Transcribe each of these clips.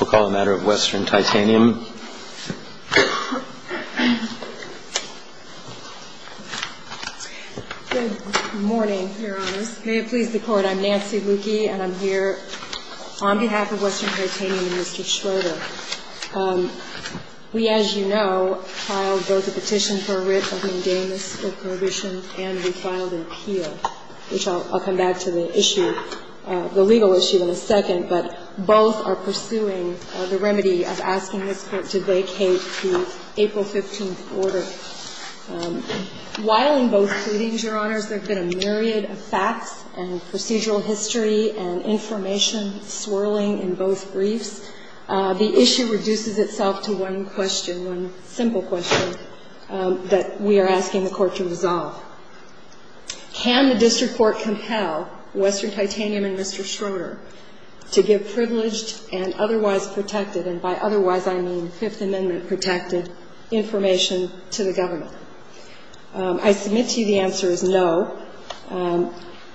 We'll call the matter of Western Titanium. Mr. Schroeder, we, as you know, filed both a petition for a writ of indemnus for prohibition and we filed an appeal, which I'll come back to the issue, the legal issue in a second, but both are pursuing the remedy of asking this Court to vacate the April 15th order. While in both proceedings, Your Honors, there have been a myriad of facts and procedural history and information swirling in both briefs, the issue reduces itself to one question, one simple question that we are asking the Court to resolve. Can the district court compel Western Titanium and Mr. Schroeder to give privileged and otherwise protected, and by otherwise I mean Fifth Amendment protected, information to the government? I submit to you the answer is no,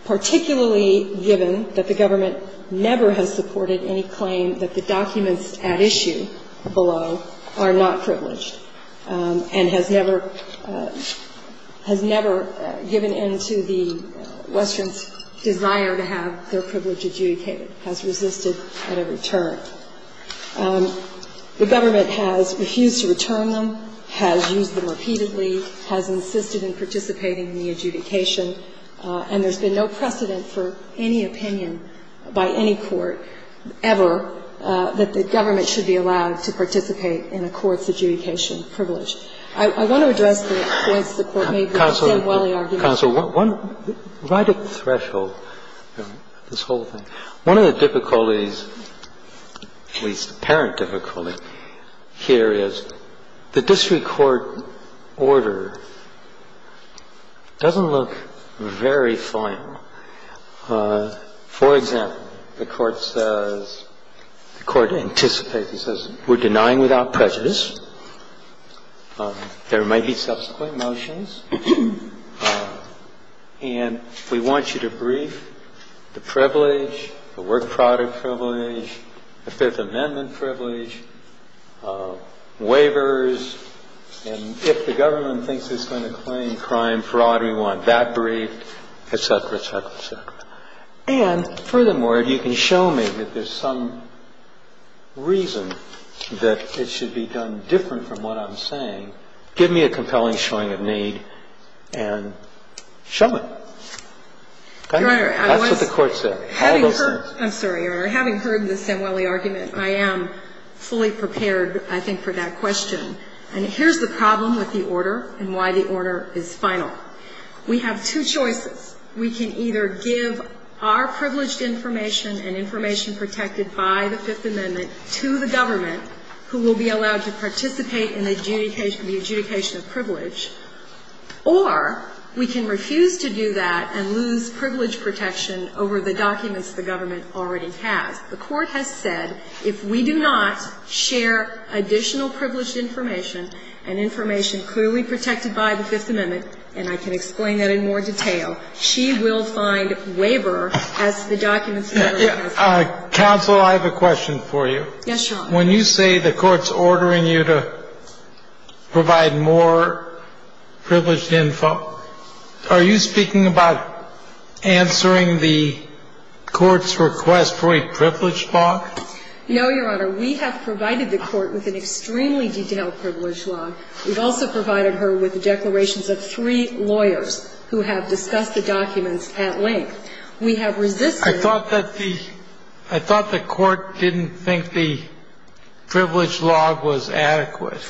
particularly given that the government never has supported any claim that the documents at issue below are not privileged and has never given in to the Western's desire to have their privilege adjudicated, has resisted at every turn. The government has refused to return them, has used them repeatedly, has insisted in participating in the adjudication, and there's been no precedent for any opinion by any court ever that the government should be allowed to participate in a court's adjudication of privilege. I want to address the points the Court made, but I'll stay while the argument goes. Kennedy, counsel, right at the threshold, this whole thing, one of the difficulties, at least apparent difficulty, here is the district court order doesn't look very fine. of a district court order. For example, the Court says, the Court anticipates, it says, we're denying without prejudice. There might be subsequent motions, and we want you to brief the privilege, the work privilege, the product privilege, the Fifth Amendment privilege, waivers, and if the government thinks it's going to claim crime, fraud, we want that briefed, et cetera, et cetera, et cetera. And furthermore, if you can show me that there's some reason that it should be done different from what I'm saying, give me a compelling showing of need and show it. That's what the Court said. Having heard, I'm sorry, Your Honor, having heard the Samueli argument, I am fully prepared, I think, for that question. And here's the problem with the order and why the order is final. We have two choices. We can either give our privileged information and information protected by the Fifth Amendment to the government, who will be allowed to participate in the adjudication of privilege, or we can refuse to do that and lose privilege protection over the documents the government already has. The Court has said if we do not share additional privileged information and information clearly protected by the Fifth Amendment, and I can explain that in more detail, she will find waiver as the documents that are in this case. Counsel, I have a question for you. Yes, Your Honor. When you say the Court's ordering you to provide more privileged info, are you speaking about answering the Court's request for a privilege log? No, Your Honor. We have provided the Court with an extremely detailed privilege log. We've also provided her with declarations of three lawyers who have discussed the documents at length. We have resisted. I thought that the Court didn't think the privilege log was adequate.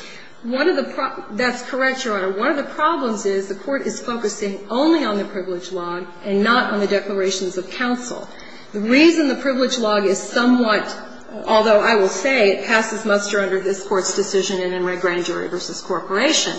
That's correct, Your Honor. One of the problems is the Court is focusing only on the privilege log and not on the declarations of counsel. The reason the privilege log is somewhat, although I will say it passes muster under this Court's decision in Enright Grand Jury v. Corporation,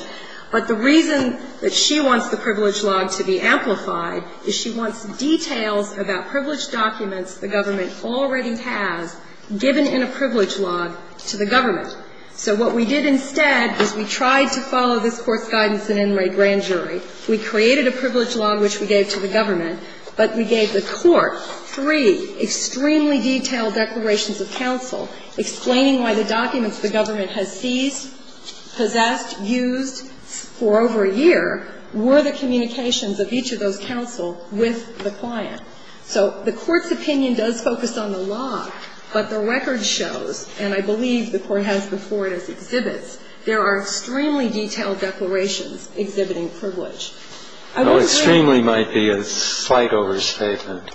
but the reason that she wants the privilege log to be amplified is she wants details about privilege documents the government already has given in a privilege log to the government. So what we did instead is we tried to follow this Court's guidance in Enright Grand Jury. We created a privilege log which we gave to the government, but we gave the Court three extremely detailed declarations of counsel explaining why the documents the government has seized, possessed, used for over a year were the communications of each of those counsel with the client. So the Court's opinion does focus on the log, but the record shows, and I believe the Court has before it as exhibits, there are extremely detailed declarations exhibiting privilege. I would agree. Extremely might be a slight overstatement.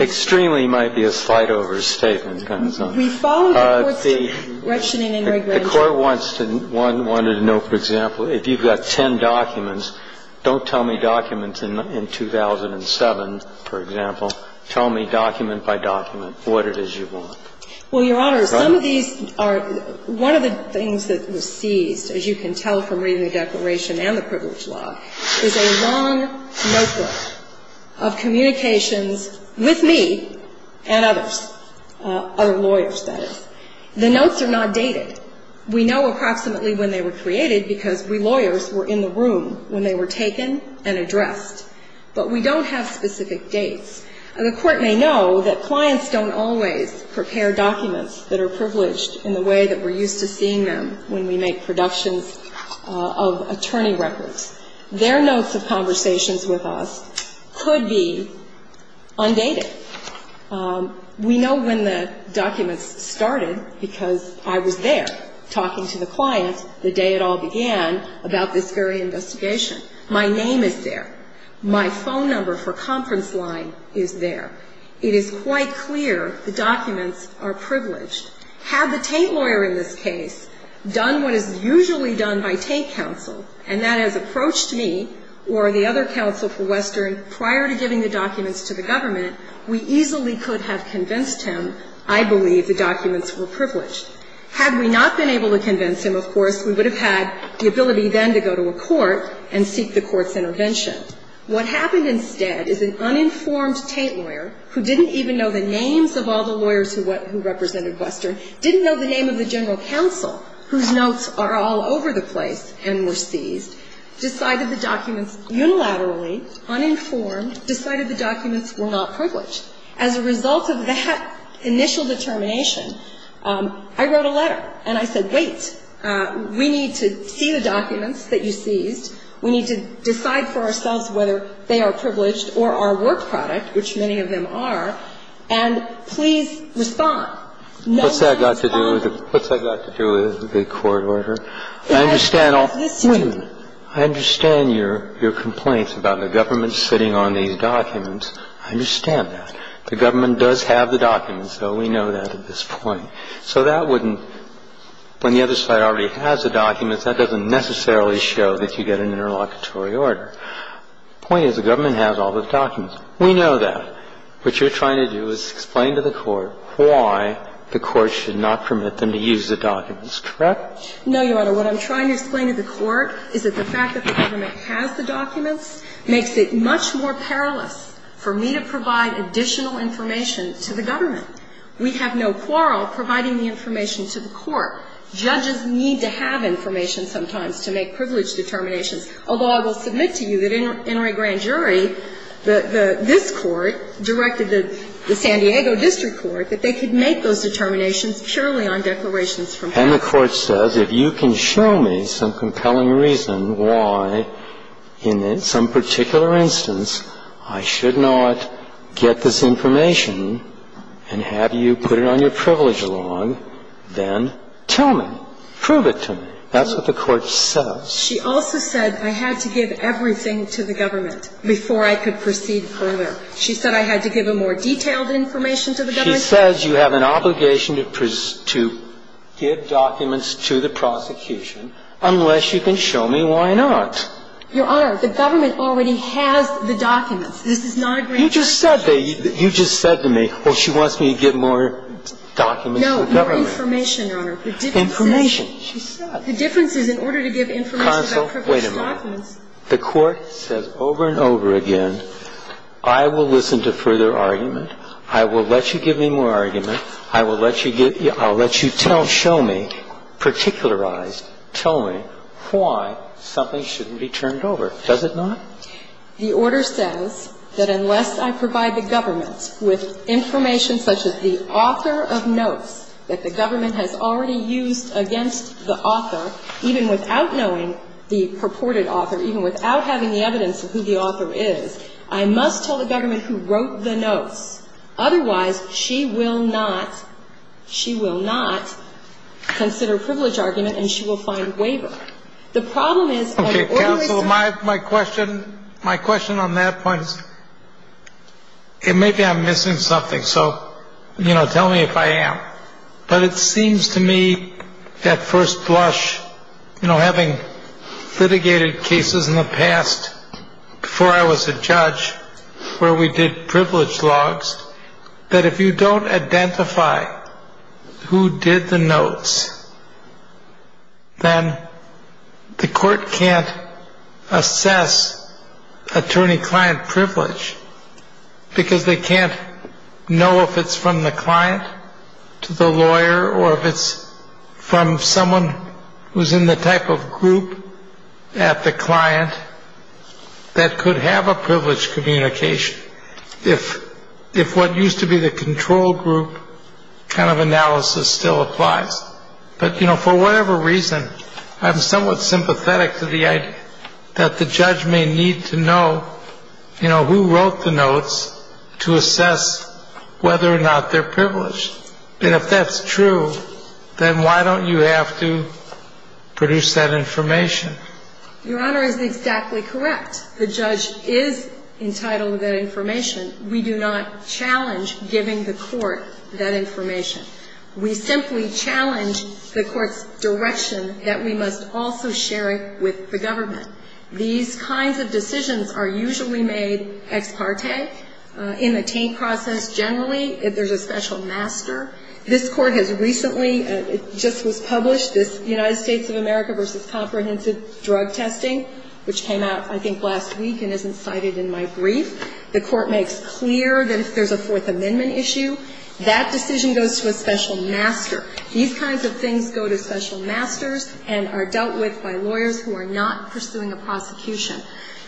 Extremely might be a slight overstatement. We followed the Court's direction in Enright Grand Jury. The Court wants to know, for example, if you've got ten documents, don't tell me documents in 2007, for example, tell me document by document what it is you want. Well, Your Honor, some of these are one of the things that was seized, as you can tell from reading the declaration and the privilege log, is a long notebook of communications with me and others, other lawyers, that is. The notes are not dated. We know approximately when they were created because we lawyers were in the room when they were taken and addressed. But we don't have specific dates. The Court may know that clients don't always prepare documents that are privileged in the way that we're used to seeing them when we make productions of attorney records. Their notes of conversations with us could be undated. We know when the documents started because I was there talking to the client the day it all began about this very investigation. My name is there. My phone number for conference line is there. It is quite clear the documents are privileged. Had the Tate lawyer in this case done what is usually done by Tate counsel, and that has approached me or the other counsel for Western prior to giving the documents to the government, we easily could have convinced him I believe the documents were privileged. Had we not been able to convince him, of course, we would have had the ability then to go to a court and seek the court's intervention. What happened instead is an uninformed Tate lawyer who didn't even know the names of all the lawyers who represented Western, didn't know the name of the general counsel whose notes are all over the place and were seized, decided the documents unilaterally, uninformed, decided the documents were not privileged. As a result of that initial determination, I wrote a letter and I said, wait, we need to see the documents that you seized, we need to decide for ourselves whether they are privileged or are work product, which many of them are, and please respond. No one has to respond. What's that got to do with the court order? I understand all of this. I understand your complaints about the government sitting on these documents. I understand that. The government does have the documents, though we know that at this point. So that wouldn't – when the other side already has the documents, that doesn't necessarily show that you get an interlocutory order. The point is the government has all the documents. We know that. What you're trying to do is explain to the court why the court should not permit them to use the documents, correct? No, Your Honor. What I'm trying to explain to the court is that the fact that the government has the documents makes it much more perilous for me to provide additional information to the government. We have no quarrel providing the information to the court. Judges need to have information sometimes to make privileged determinations, although I will submit to you that in a grand jury, this court directed the San Diego District Court that they could make those determinations purely on declarations from past. And the court says, if you can show me some compelling reason why in some particular instance I should not get this information and have you put it on your privilege log, then tell me. Prove it to me. That's what the court says. She also said, I had to give everything to the government before I could proceed further. She said I had to give a more detailed information to the government? She says you have an obligation to give documents to the prosecution unless you can show me why not. Your Honor, the government already has the documents. This is not a grand jury. You just said to me, well, she wants me to get more documents from the government. No, more information, Your Honor. Information, she said. The difference is, in order to give information about privileged documents. Counsel, wait a minute. The court says over and over again, I will listen to further argument. I will let you give me more argument. I will let you give you – I will let you tell, show me, particularize, tell me why something shouldn't be turned over. Does it not? The order says that unless I provide the government with information such as the author of notes that the government has already used against the author, even without knowing the purported author, even without having the evidence of who the author is, I must tell the government who wrote the notes. Otherwise, she will not, she will not consider privilege argument and she will find waiver. The problem is – Okay, counsel, my question, my question on that point is, it may be I'm missing something. So, you know, tell me if I am. But it seems to me at first blush, you know, having litigated cases in the past before I was a judge, where we did privilege logs, that if you don't identify who did the notes, then the court can't assess attorney-client privilege because they can't know if it's from the client to the lawyer or if it's from someone who's in the type of group at the client that could have a privilege communication, if what used to be the control group kind of analysis still applies. But, you know, for whatever reason, I'm somewhat sympathetic to the idea that the judge may need to know, you know, who wrote the notes to assess whether or not they're privileged. And if that's true, then why don't you have to produce that information? Your Honor is exactly correct. The judge is entitled to that information. We do not challenge giving the court that information. We simply challenge the court's direction that we must also share it with the These kinds of decisions are usually made ex parte. In the Taint process, generally, if there's a special master. This Court has recently, it just was published, this United States of America v. Comprehensive Drug Testing, which came out, I think, last week and isn't cited in my brief. The Court makes clear that if there's a Fourth Amendment issue, that decision goes to a special master. These kinds of things go to special masters and are dealt with by lawyers who are not pursuing a prosecution.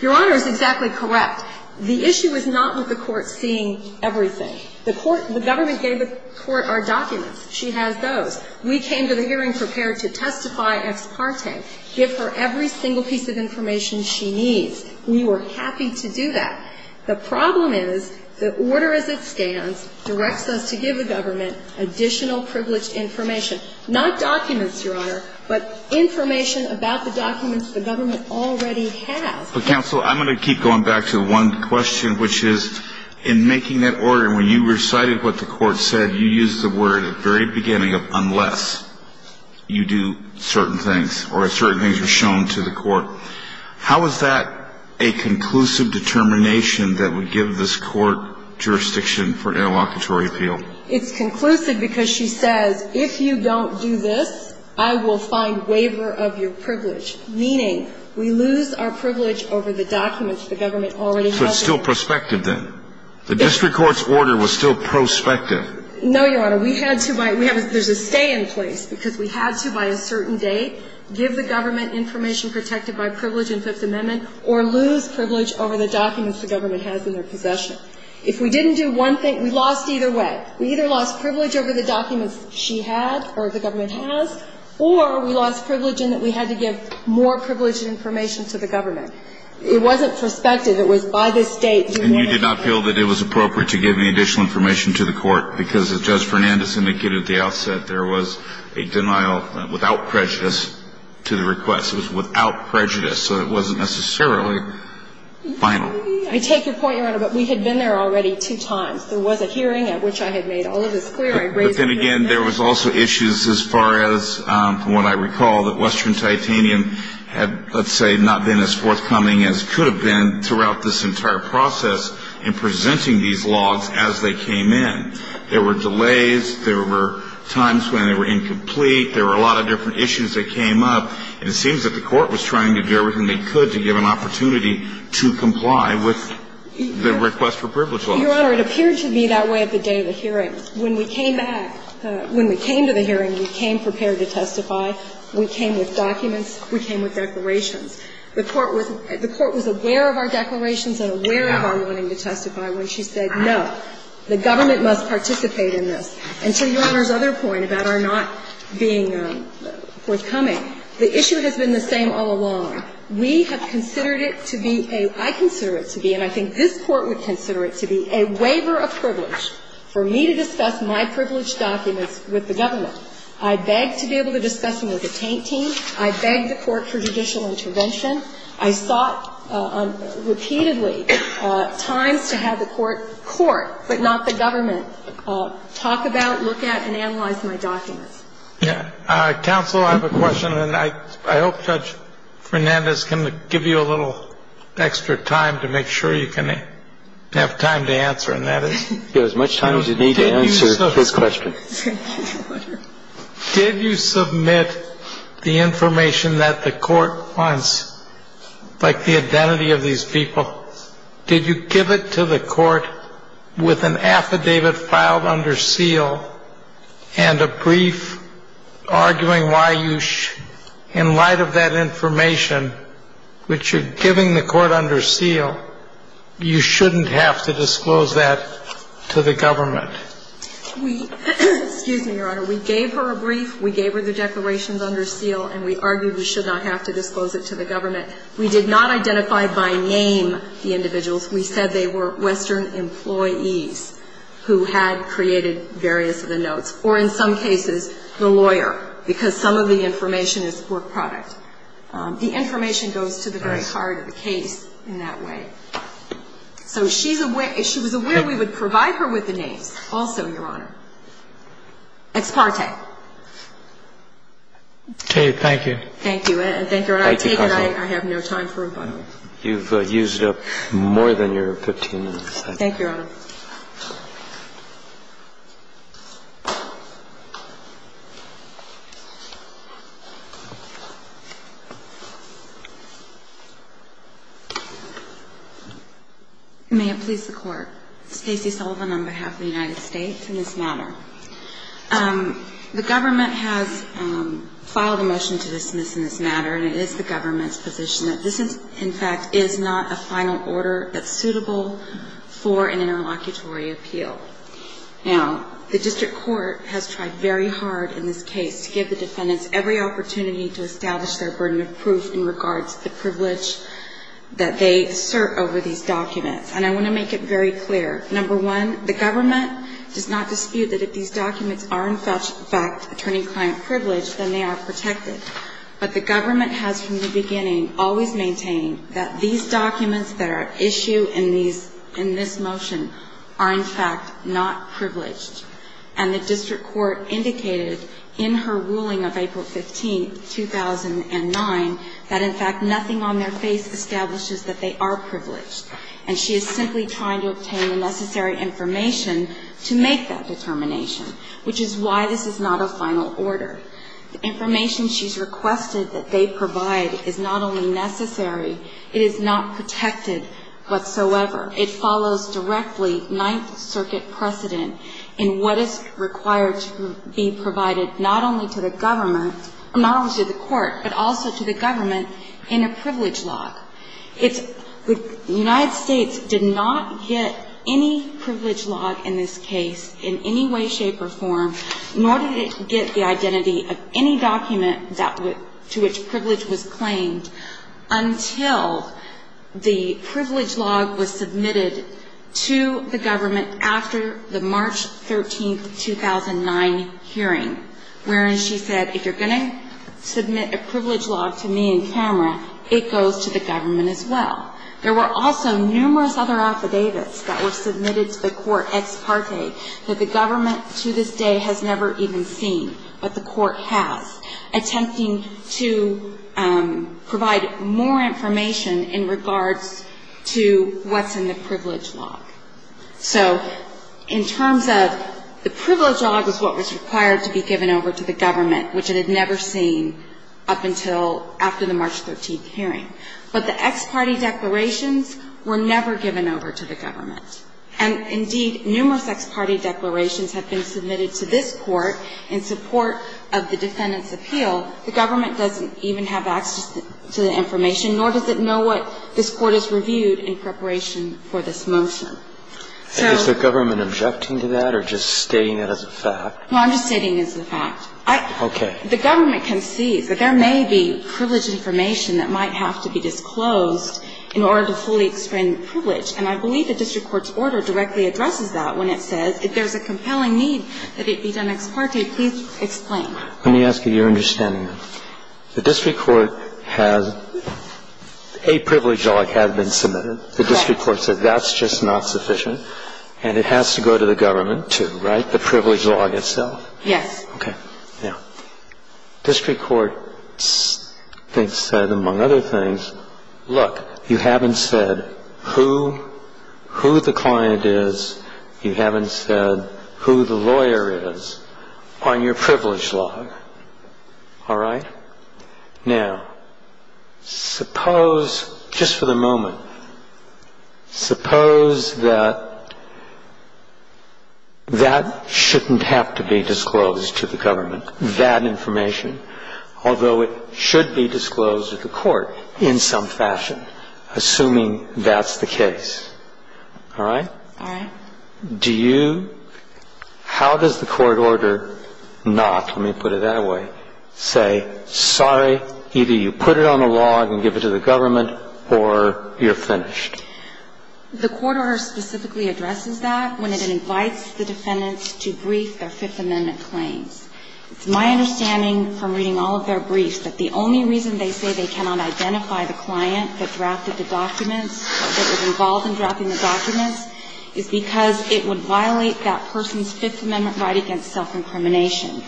Your Honor is exactly correct. The issue is not with the court seeing everything. The court, the government gave the court our documents. She has those. We came to the hearing prepared to testify ex parte, give her every single piece of information she needs. We were happy to do that. The problem is the order as it stands directs us to give the government additional privileged information. Not documents, Your Honor, but information about the documents the government already has. Counsel, I'm going to keep going back to one question, which is in making that order, when you recited what the court said, you used the word at the very beginning of unless you do certain things or certain things are shown to the court. How is that a conclusive determination that would give this court jurisdiction for interlocutory appeal? It's conclusive because she says, if you don't do this, I will find waiver of your privilege. Meaning, we lose our privilege over the documents the government already has. So it's still prospective then? The district court's order was still prospective. No, Your Honor. We had to, there's a stay in place because we had to by a certain date give the government information protected by privilege in Fifth Amendment or lose privilege over the documents the government has in their possession. If we didn't do one thing, we lost either way. We either lost privilege over the documents she had or the government has or we had to give more privileged information to the government. It wasn't prospective. It was by this date. And you did not feel that it was appropriate to give any additional information to the court because as Judge Fernandez indicated at the outset, there was a denial without prejudice to the request. It was without prejudice. So it wasn't necessarily final. I take your point, Your Honor. But we had been there already two times. There was a hearing at which I had made all of this clear. But then again, there was also issues as far as, from what I recall, that Western Titanium had, let's say, not been as forthcoming as it could have been throughout this entire process in presenting these logs as they came in. There were delays. There were times when they were incomplete. There were a lot of different issues that came up. And it seems that the court was trying to do everything they could to give an opportunity to comply with the request for privileged logs. Your Honor, it appeared to me that way at the day of the hearing. When we came back, when we came to the hearing, we came prepared to testify. We came with documents. We came with declarations. The court was aware of our declarations and aware of our wanting to testify when she said, no, the government must participate in this. And to Your Honor's other point about our not being forthcoming, the issue has been the same all along. We have considered it to be a – I consider it to be, and I think this Court would my privileged documents with the government. I begged to be able to discuss them with the Taint team. I begged the court for judicial intervention. I sought repeatedly times to have the court – court, but not the government – talk about, look at, and analyze my documents. Yeah. Counsel, I have a question, and I hope Judge Fernandez can give you a little extra time to make sure you can have time to answer, and that is – You have as much time as you need to answer his question. Did you submit the information that the court wants, like the identity of these people? Did you give it to the court with an affidavit filed under seal and a brief arguing why you – in light of that information, which you're giving the court under seal, you shouldn't have to disclose that to the government? We – excuse me, Your Honor. We gave her a brief. We gave her the declarations under seal, and we argued we should not have to disclose it to the government. We did not identify by name the individuals. We said they were Western employees who had created various of the notes, or in some cases, the lawyer, because some of the information is work product. The information goes to the very heart of the case in that way. So she's aware – she was aware we would provide her with the names also, Your Honor. Ex parte. Kate, thank you. Thank you. Thank you, Your Honor. I take it I have no time for rebuttal. Thank you, Your Honor. May it please the Court. Stacey Sullivan on behalf of the United States in this matter. The government has filed a motion to dismiss in this matter, and it is the government's position that this is, in fact, is not a final order that's suitable for an interlocutory appeal. Now, the district court has tried very hard in this case to give the defendants every And I want to make it very clear. Number one, the government does not dispute that if these documents are, in fact, attorney-client privileged, then they are protected. But the government has, from the beginning, always maintained that these documents that are at issue in these – in this motion are, in fact, not privileged. And the district court indicated in her ruling of April 15, 2009, that, in fact, nothing on their face establishes that they are privileged. And she is simply trying to obtain the necessary information to make that determination, which is why this is not a final order. The information she's requested that they provide is not only necessary, it is not protected whatsoever. It follows directly Ninth Circuit precedent in what is required to be provided not only to the government – not only to the court, but also to the government in a privilege log. It's – the United States did not get any privilege log in this case in any way, shape or form, nor did it get the identity of any document that – to which privilege was claimed until the privilege log was submitted to the government after the March 13, 2009 hearing, wherein she said, if you're going to submit a privilege log to me in camera, it goes to the government as well. There were also numerous other affidavits that were submitted to the court ex parte that the government to this day has never even seen, but the court has, attempting to provide more information in regards to what's in the privilege log. So in terms of the privilege log is what was required to be given over to the government, which it had never seen up until after the March 13 hearing. But the ex parte declarations were never given over to the government. And indeed, numerous ex parte declarations have been submitted to this court in support of the defendant's appeal. The government doesn't even have access to the information, nor does it know what this court has reviewed in preparation for this motion. So – Is the government objecting to that or just stating it as a fact? No, I'm just stating it as a fact. Okay. The government can see that there may be privileged information that might have to be disclosed in order to fully explain the privilege. And I believe the district court's order directly addresses that when it says, if there's a compelling need that it be done ex parte, please explain. Let me ask you your understanding. The district court has – a privilege log has been submitted. Correct. The district court said that's just not sufficient. And it has to go to the government, too, right? The privilege log itself? Yes. Okay. Now, district court said, among other things, look, you haven't said who the client is. You haven't said who the lawyer is on your privilege log. All right? Now, suppose – just for the moment – suppose that that shouldn't have to be disclosed to the government, that information, although it should be disclosed to the court in some fashion, assuming that's the case. All right? All right. Do you – how does the court order not – let me put it that way – say, sorry, either you put it on a log and give it to the government or you're finished? The court order specifically addresses that when it invites the defendants to brief their Fifth Amendment claims. It's my understanding from reading all of their briefs that the only reason they say that they cannot identify the client that drafted the documents, that was involved in drafting the documents, is because it would violate that person's Fifth Amendment right against self-incrimination.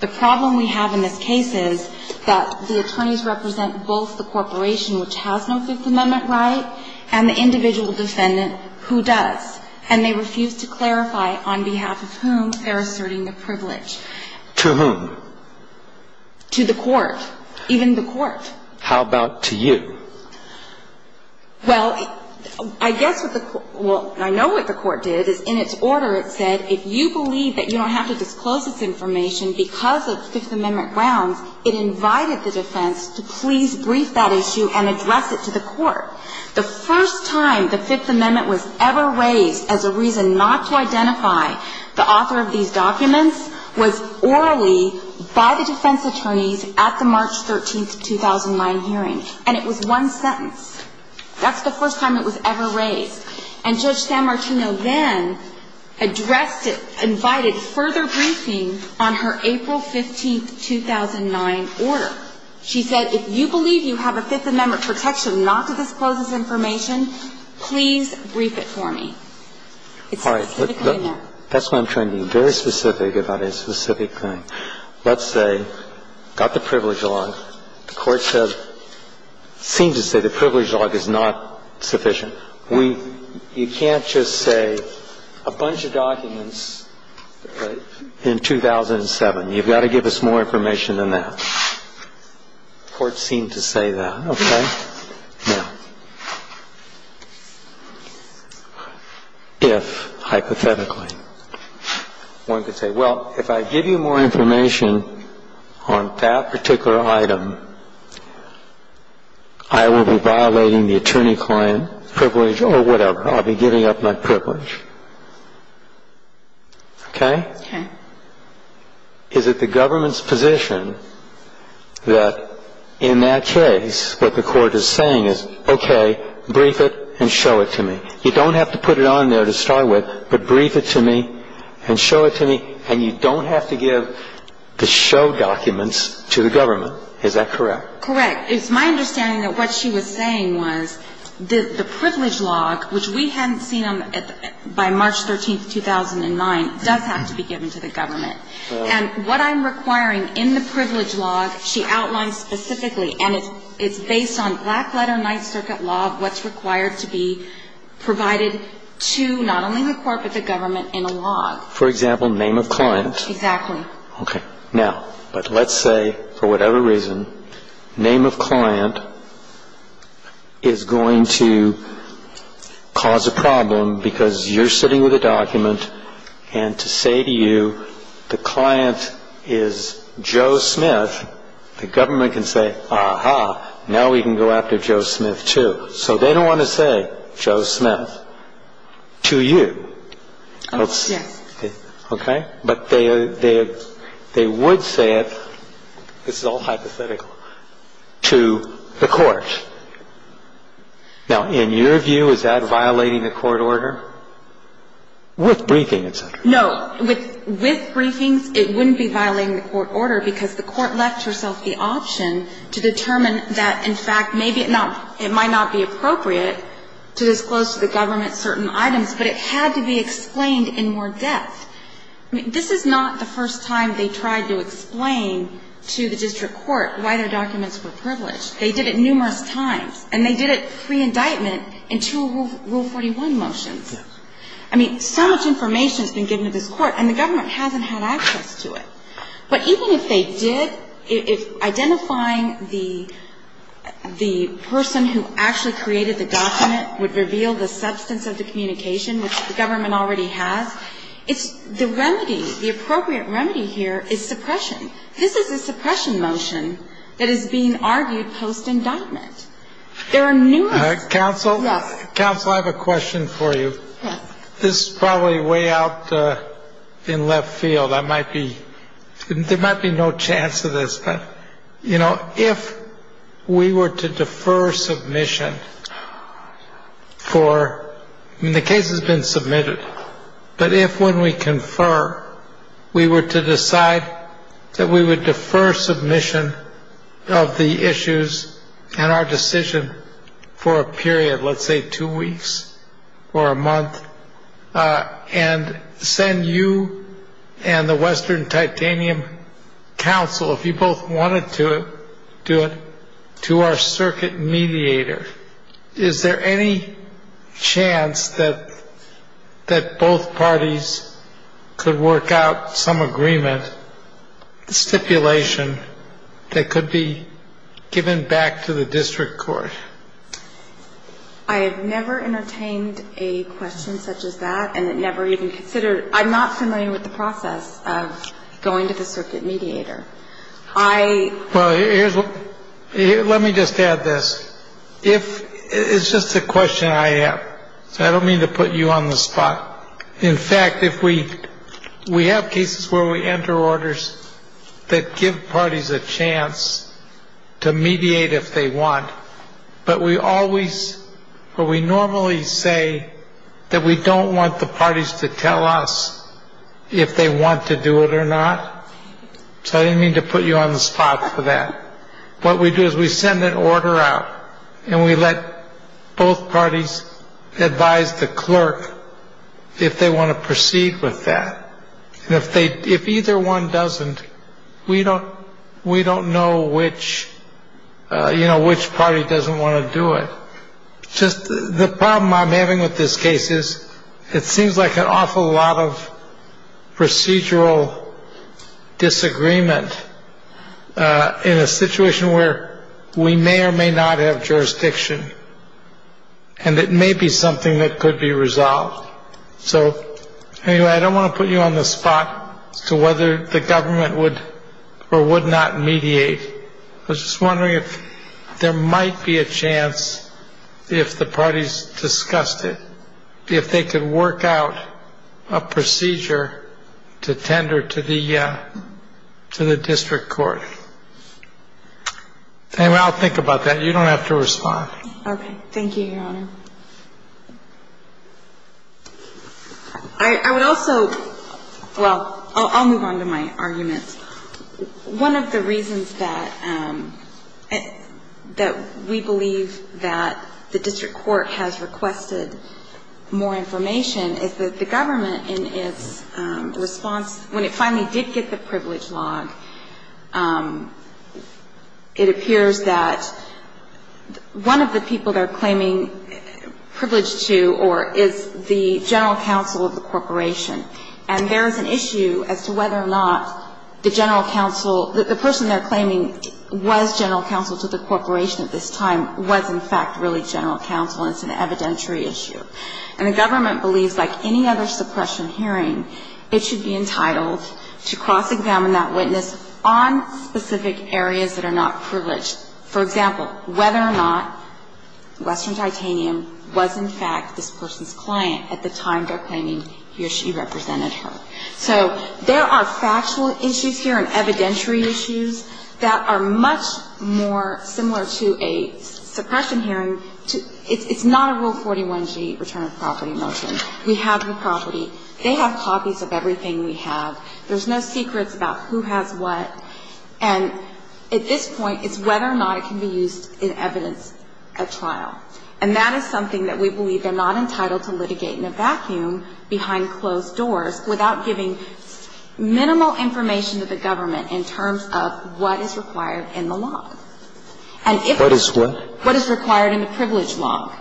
The problem we have in this case is that the attorneys represent both the corporation which has no Fifth Amendment right and the individual defendant who does. And they refuse to clarify on behalf of whom they're asserting the privilege. To whom? To the court. Even the court. How about to you? Well, I guess what the – well, I know what the court did is in its order it said, if you believe that you don't have to disclose this information because of Fifth Amendment grounds, it invited the defense to please brief that issue and address it to the court. The first time the Fifth Amendment was ever raised as a reason not to identify the author of these documents was orally by the defense attorneys at the March 13, 2009 hearing. And it was one sentence. That's the first time it was ever raised. And Judge San Martino then addressed it, invited further briefing on her April 15, 2009 order. She said, if you believe you have a Fifth Amendment protection not to disclose this information, please brief it for me. All right. That's why I'm trying to be very specific about a specific thing. Let's say, got the privilege log. The court said – seemed to say the privilege log is not sufficient. We – you can't just say a bunch of documents in 2007. You've got to give us more information than that. The court seemed to say that. Okay. Now, if, hypothetically, one could say, well, if I give you more information on that particular item, I will be violating the attorney-client privilege or whatever. I'll be giving up my privilege. Okay? Okay. Is it the government's position that, in that case, what the court is saying is, okay, brief it and show it to me? You don't have to put it on there to start with, but brief it to me and show it to me, and you don't have to give the show documents to the government. Is that correct? Correct. It's my understanding that what she was saying was that the privilege log, which we hadn't seen by March 13, 2009, does have to be given to the government. And what I'm requiring in the privilege log, she outlines specifically, and it's based on black-letter Ninth Circuit law, what's required to be provided to not only the court but the government in a log. For example, name of client. Exactly. Okay. Now, but let's say, for whatever reason, name of client is going to cause a problem because you're sitting with a document, and to say to you, the client is Joe Smith, the government can say, aha, now we can go after Joe Smith, too. So they don't want to say Joe Smith to you. Yes. Okay? But they would say it, this is all hypothetical, to the court. Now, in your view, is that violating the court order? With briefings, et cetera. No. With briefings, it wouldn't be violating the court order because the court left herself the option to determine that, in fact, maybe it might not be appropriate to disclose to the government certain items, but it had to be explained in more depth. This is not the first time they tried to explain to the district court why their documents were privileged. They did it numerous times, and they did it pre-indictment in two Rule 41 motions. Yes. I mean, so much information has been given to this court, and the government hasn't had access to it. But even if they did, if identifying the person who actually created the document would reveal the substance of the communication, which the government already has, it's the remedy, the appropriate remedy here is suppression. This is a suppression motion that is being argued post-indictment. There are numerous... Counsel? Yes. Counsel, I have a question for you. Yes. This is probably way out in left field. I might be... There might be no chance of this, but, you know, if we were to defer submission for... I mean, the case has been submitted, but if when we confer, we were to decide that we would defer submission of the issues and our decision for a period, let's say two weeks or a month, and send you and the Western Titanium Council, if you both wanted to do it, to our circuit mediator, is there any chance that both parties could work out some agreement, stipulation that could be given back to the district court? I have never entertained a question such as that, and it never even considered... I'm not familiar with the process of going to the circuit mediator. I... Well, here's... Let me just add this. If... It's just a question I have, so I don't mean to put you on the spot. In fact, if we... We have cases where we enter orders that give parties a chance to mediate if they want, but we always or we normally say that we don't want the parties to tell us if they want to do it or not. So I didn't mean to put you on the spot for that. What we do is we send an order out, and we let both parties advise the clerk if they want to proceed with that. And if either one doesn't, we don't know which party doesn't want to do it. Just the problem I'm having with this case is it seems like an awful lot of procedural disagreement in a situation where we may or may not have jurisdiction, and it may be something that could be resolved. So, anyway, I don't want to put you on the spot as to whether the government would or would not mediate. I was just wondering if there might be a chance if the parties discussed it, if they could work out a procedure to tender to the district court. Anyway, I'll think about that. You don't have to respond. Okay. Thank you, Your Honor. I would also... Well, I'll move on to my arguments. One of the reasons that we believe that the district court has requested more information is that the government, in its response, when it finally did get the privilege log, it appears that one of the people they're claiming privilege to is the general counsel of the corporation. And there is an issue as to whether or not the general counsel, the person they're claiming was general counsel to the corporation at this time was, in fact, really general counsel, and it's an evidentiary issue. And the government believes, like any other suppression hearing, it should be entitled to cross-examine that witness on specific areas that are not privileged. For example, whether or not Western Titanium was, in fact, this person's client at the time they're claiming he or she represented her. So there are factual issues here and evidentiary issues that are much more similar to a suppression hearing. It's not a Rule 41G return of property motion. We have the property. They have copies of everything we have. There's no secrets about who has what. And at this point, it's whether or not it can be used in evidence at trial. And that is something that we believe they're not entitled to litigate in a vacuum behind closed doors without giving minimal information to the government in terms of what is required in the law. What is what? What is required in the privilege law.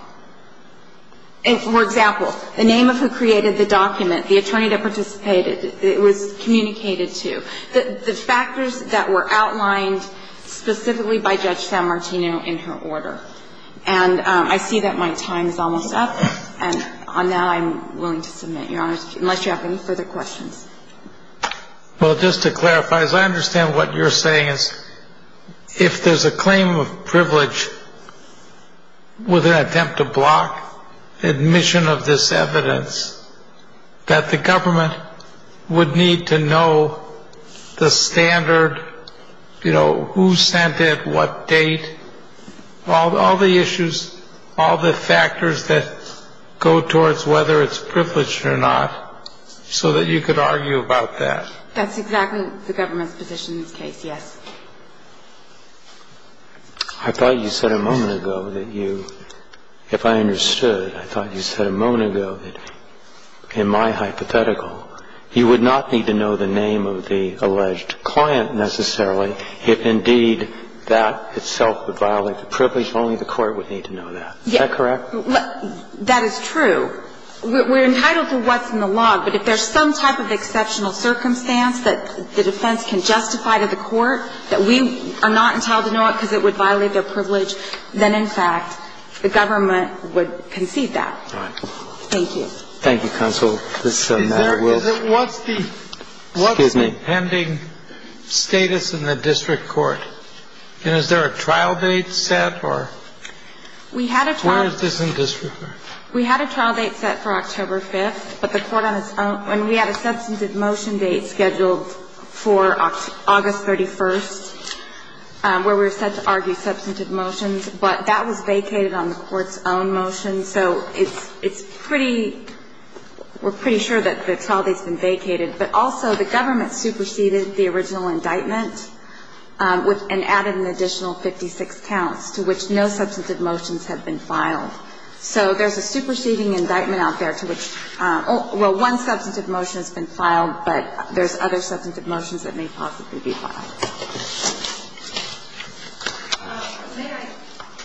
For example, the name of who created the document, the attorney that participated, it was communicated to, the factors that were outlined specifically by Judge San Martino in her order. And I see that my time is almost up, and now I'm willing to submit, Your Honor, unless you have any further questions. Well, just to clarify, as I understand what you're saying, is if there's a claim of privilege with an attempt to block admission of this evidence, that the government would need to know the standard, you know, who sent it, what date, all the issues, all the factors that go towards whether it's privileged or not, so that you could argue about that. That's exactly the government's position in this case, yes. I thought you said a moment ago that you, if I understood, I thought you said a moment ago that in my hypothetical, you would not need to know the name of the alleged client necessarily, if indeed that itself would violate the privilege, only the court would need to know that. Is that correct? That is true. We're entitled to what's in the law, but if there's some type of exceptional circumstance that the defense can justify to the court that we are not entitled to know it because it would violate their privilege, then, in fact, the government would concede that. Thank you. Thank you, Counsel. What's the pending status in the district court? Is there a trial date set? Where is this in district court? We had a trial date set for October 5th, and we had a substantive motion date scheduled for August 31st, where we were set to argue substantive motions, but that was vacated on the court's own motion, so we're pretty sure that the trial date's been vacated. But also, the government superseded the original indictment and added an additional 56 counts, to which no substantive motions have been filed. So there's a superseding indictment out there to which one substantive motion has been filed, but there's other substantive motions that may possibly be filed. May I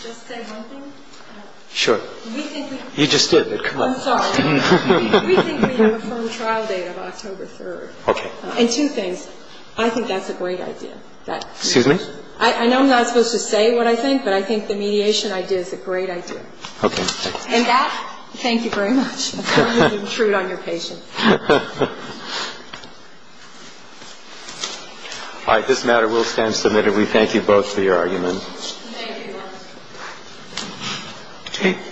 just say one thing? Sure. You just did. I'm sorry. We think we have a firm trial date of October 3rd. Okay. And two things. I think that's a great idea. Excuse me? I know I'm not supposed to say what I think, but I think the mediation idea is a great idea. Okay. And that, thank you very much. I'm going to intrude on your patience. All right. This matter will stand submitted. We thank you both for your argument. Thank you.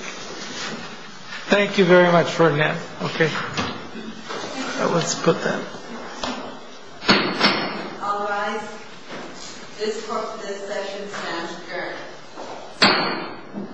Thank you very much for now. Okay. Let's put that. All rise. This session stands adjourned. We're going to take a break.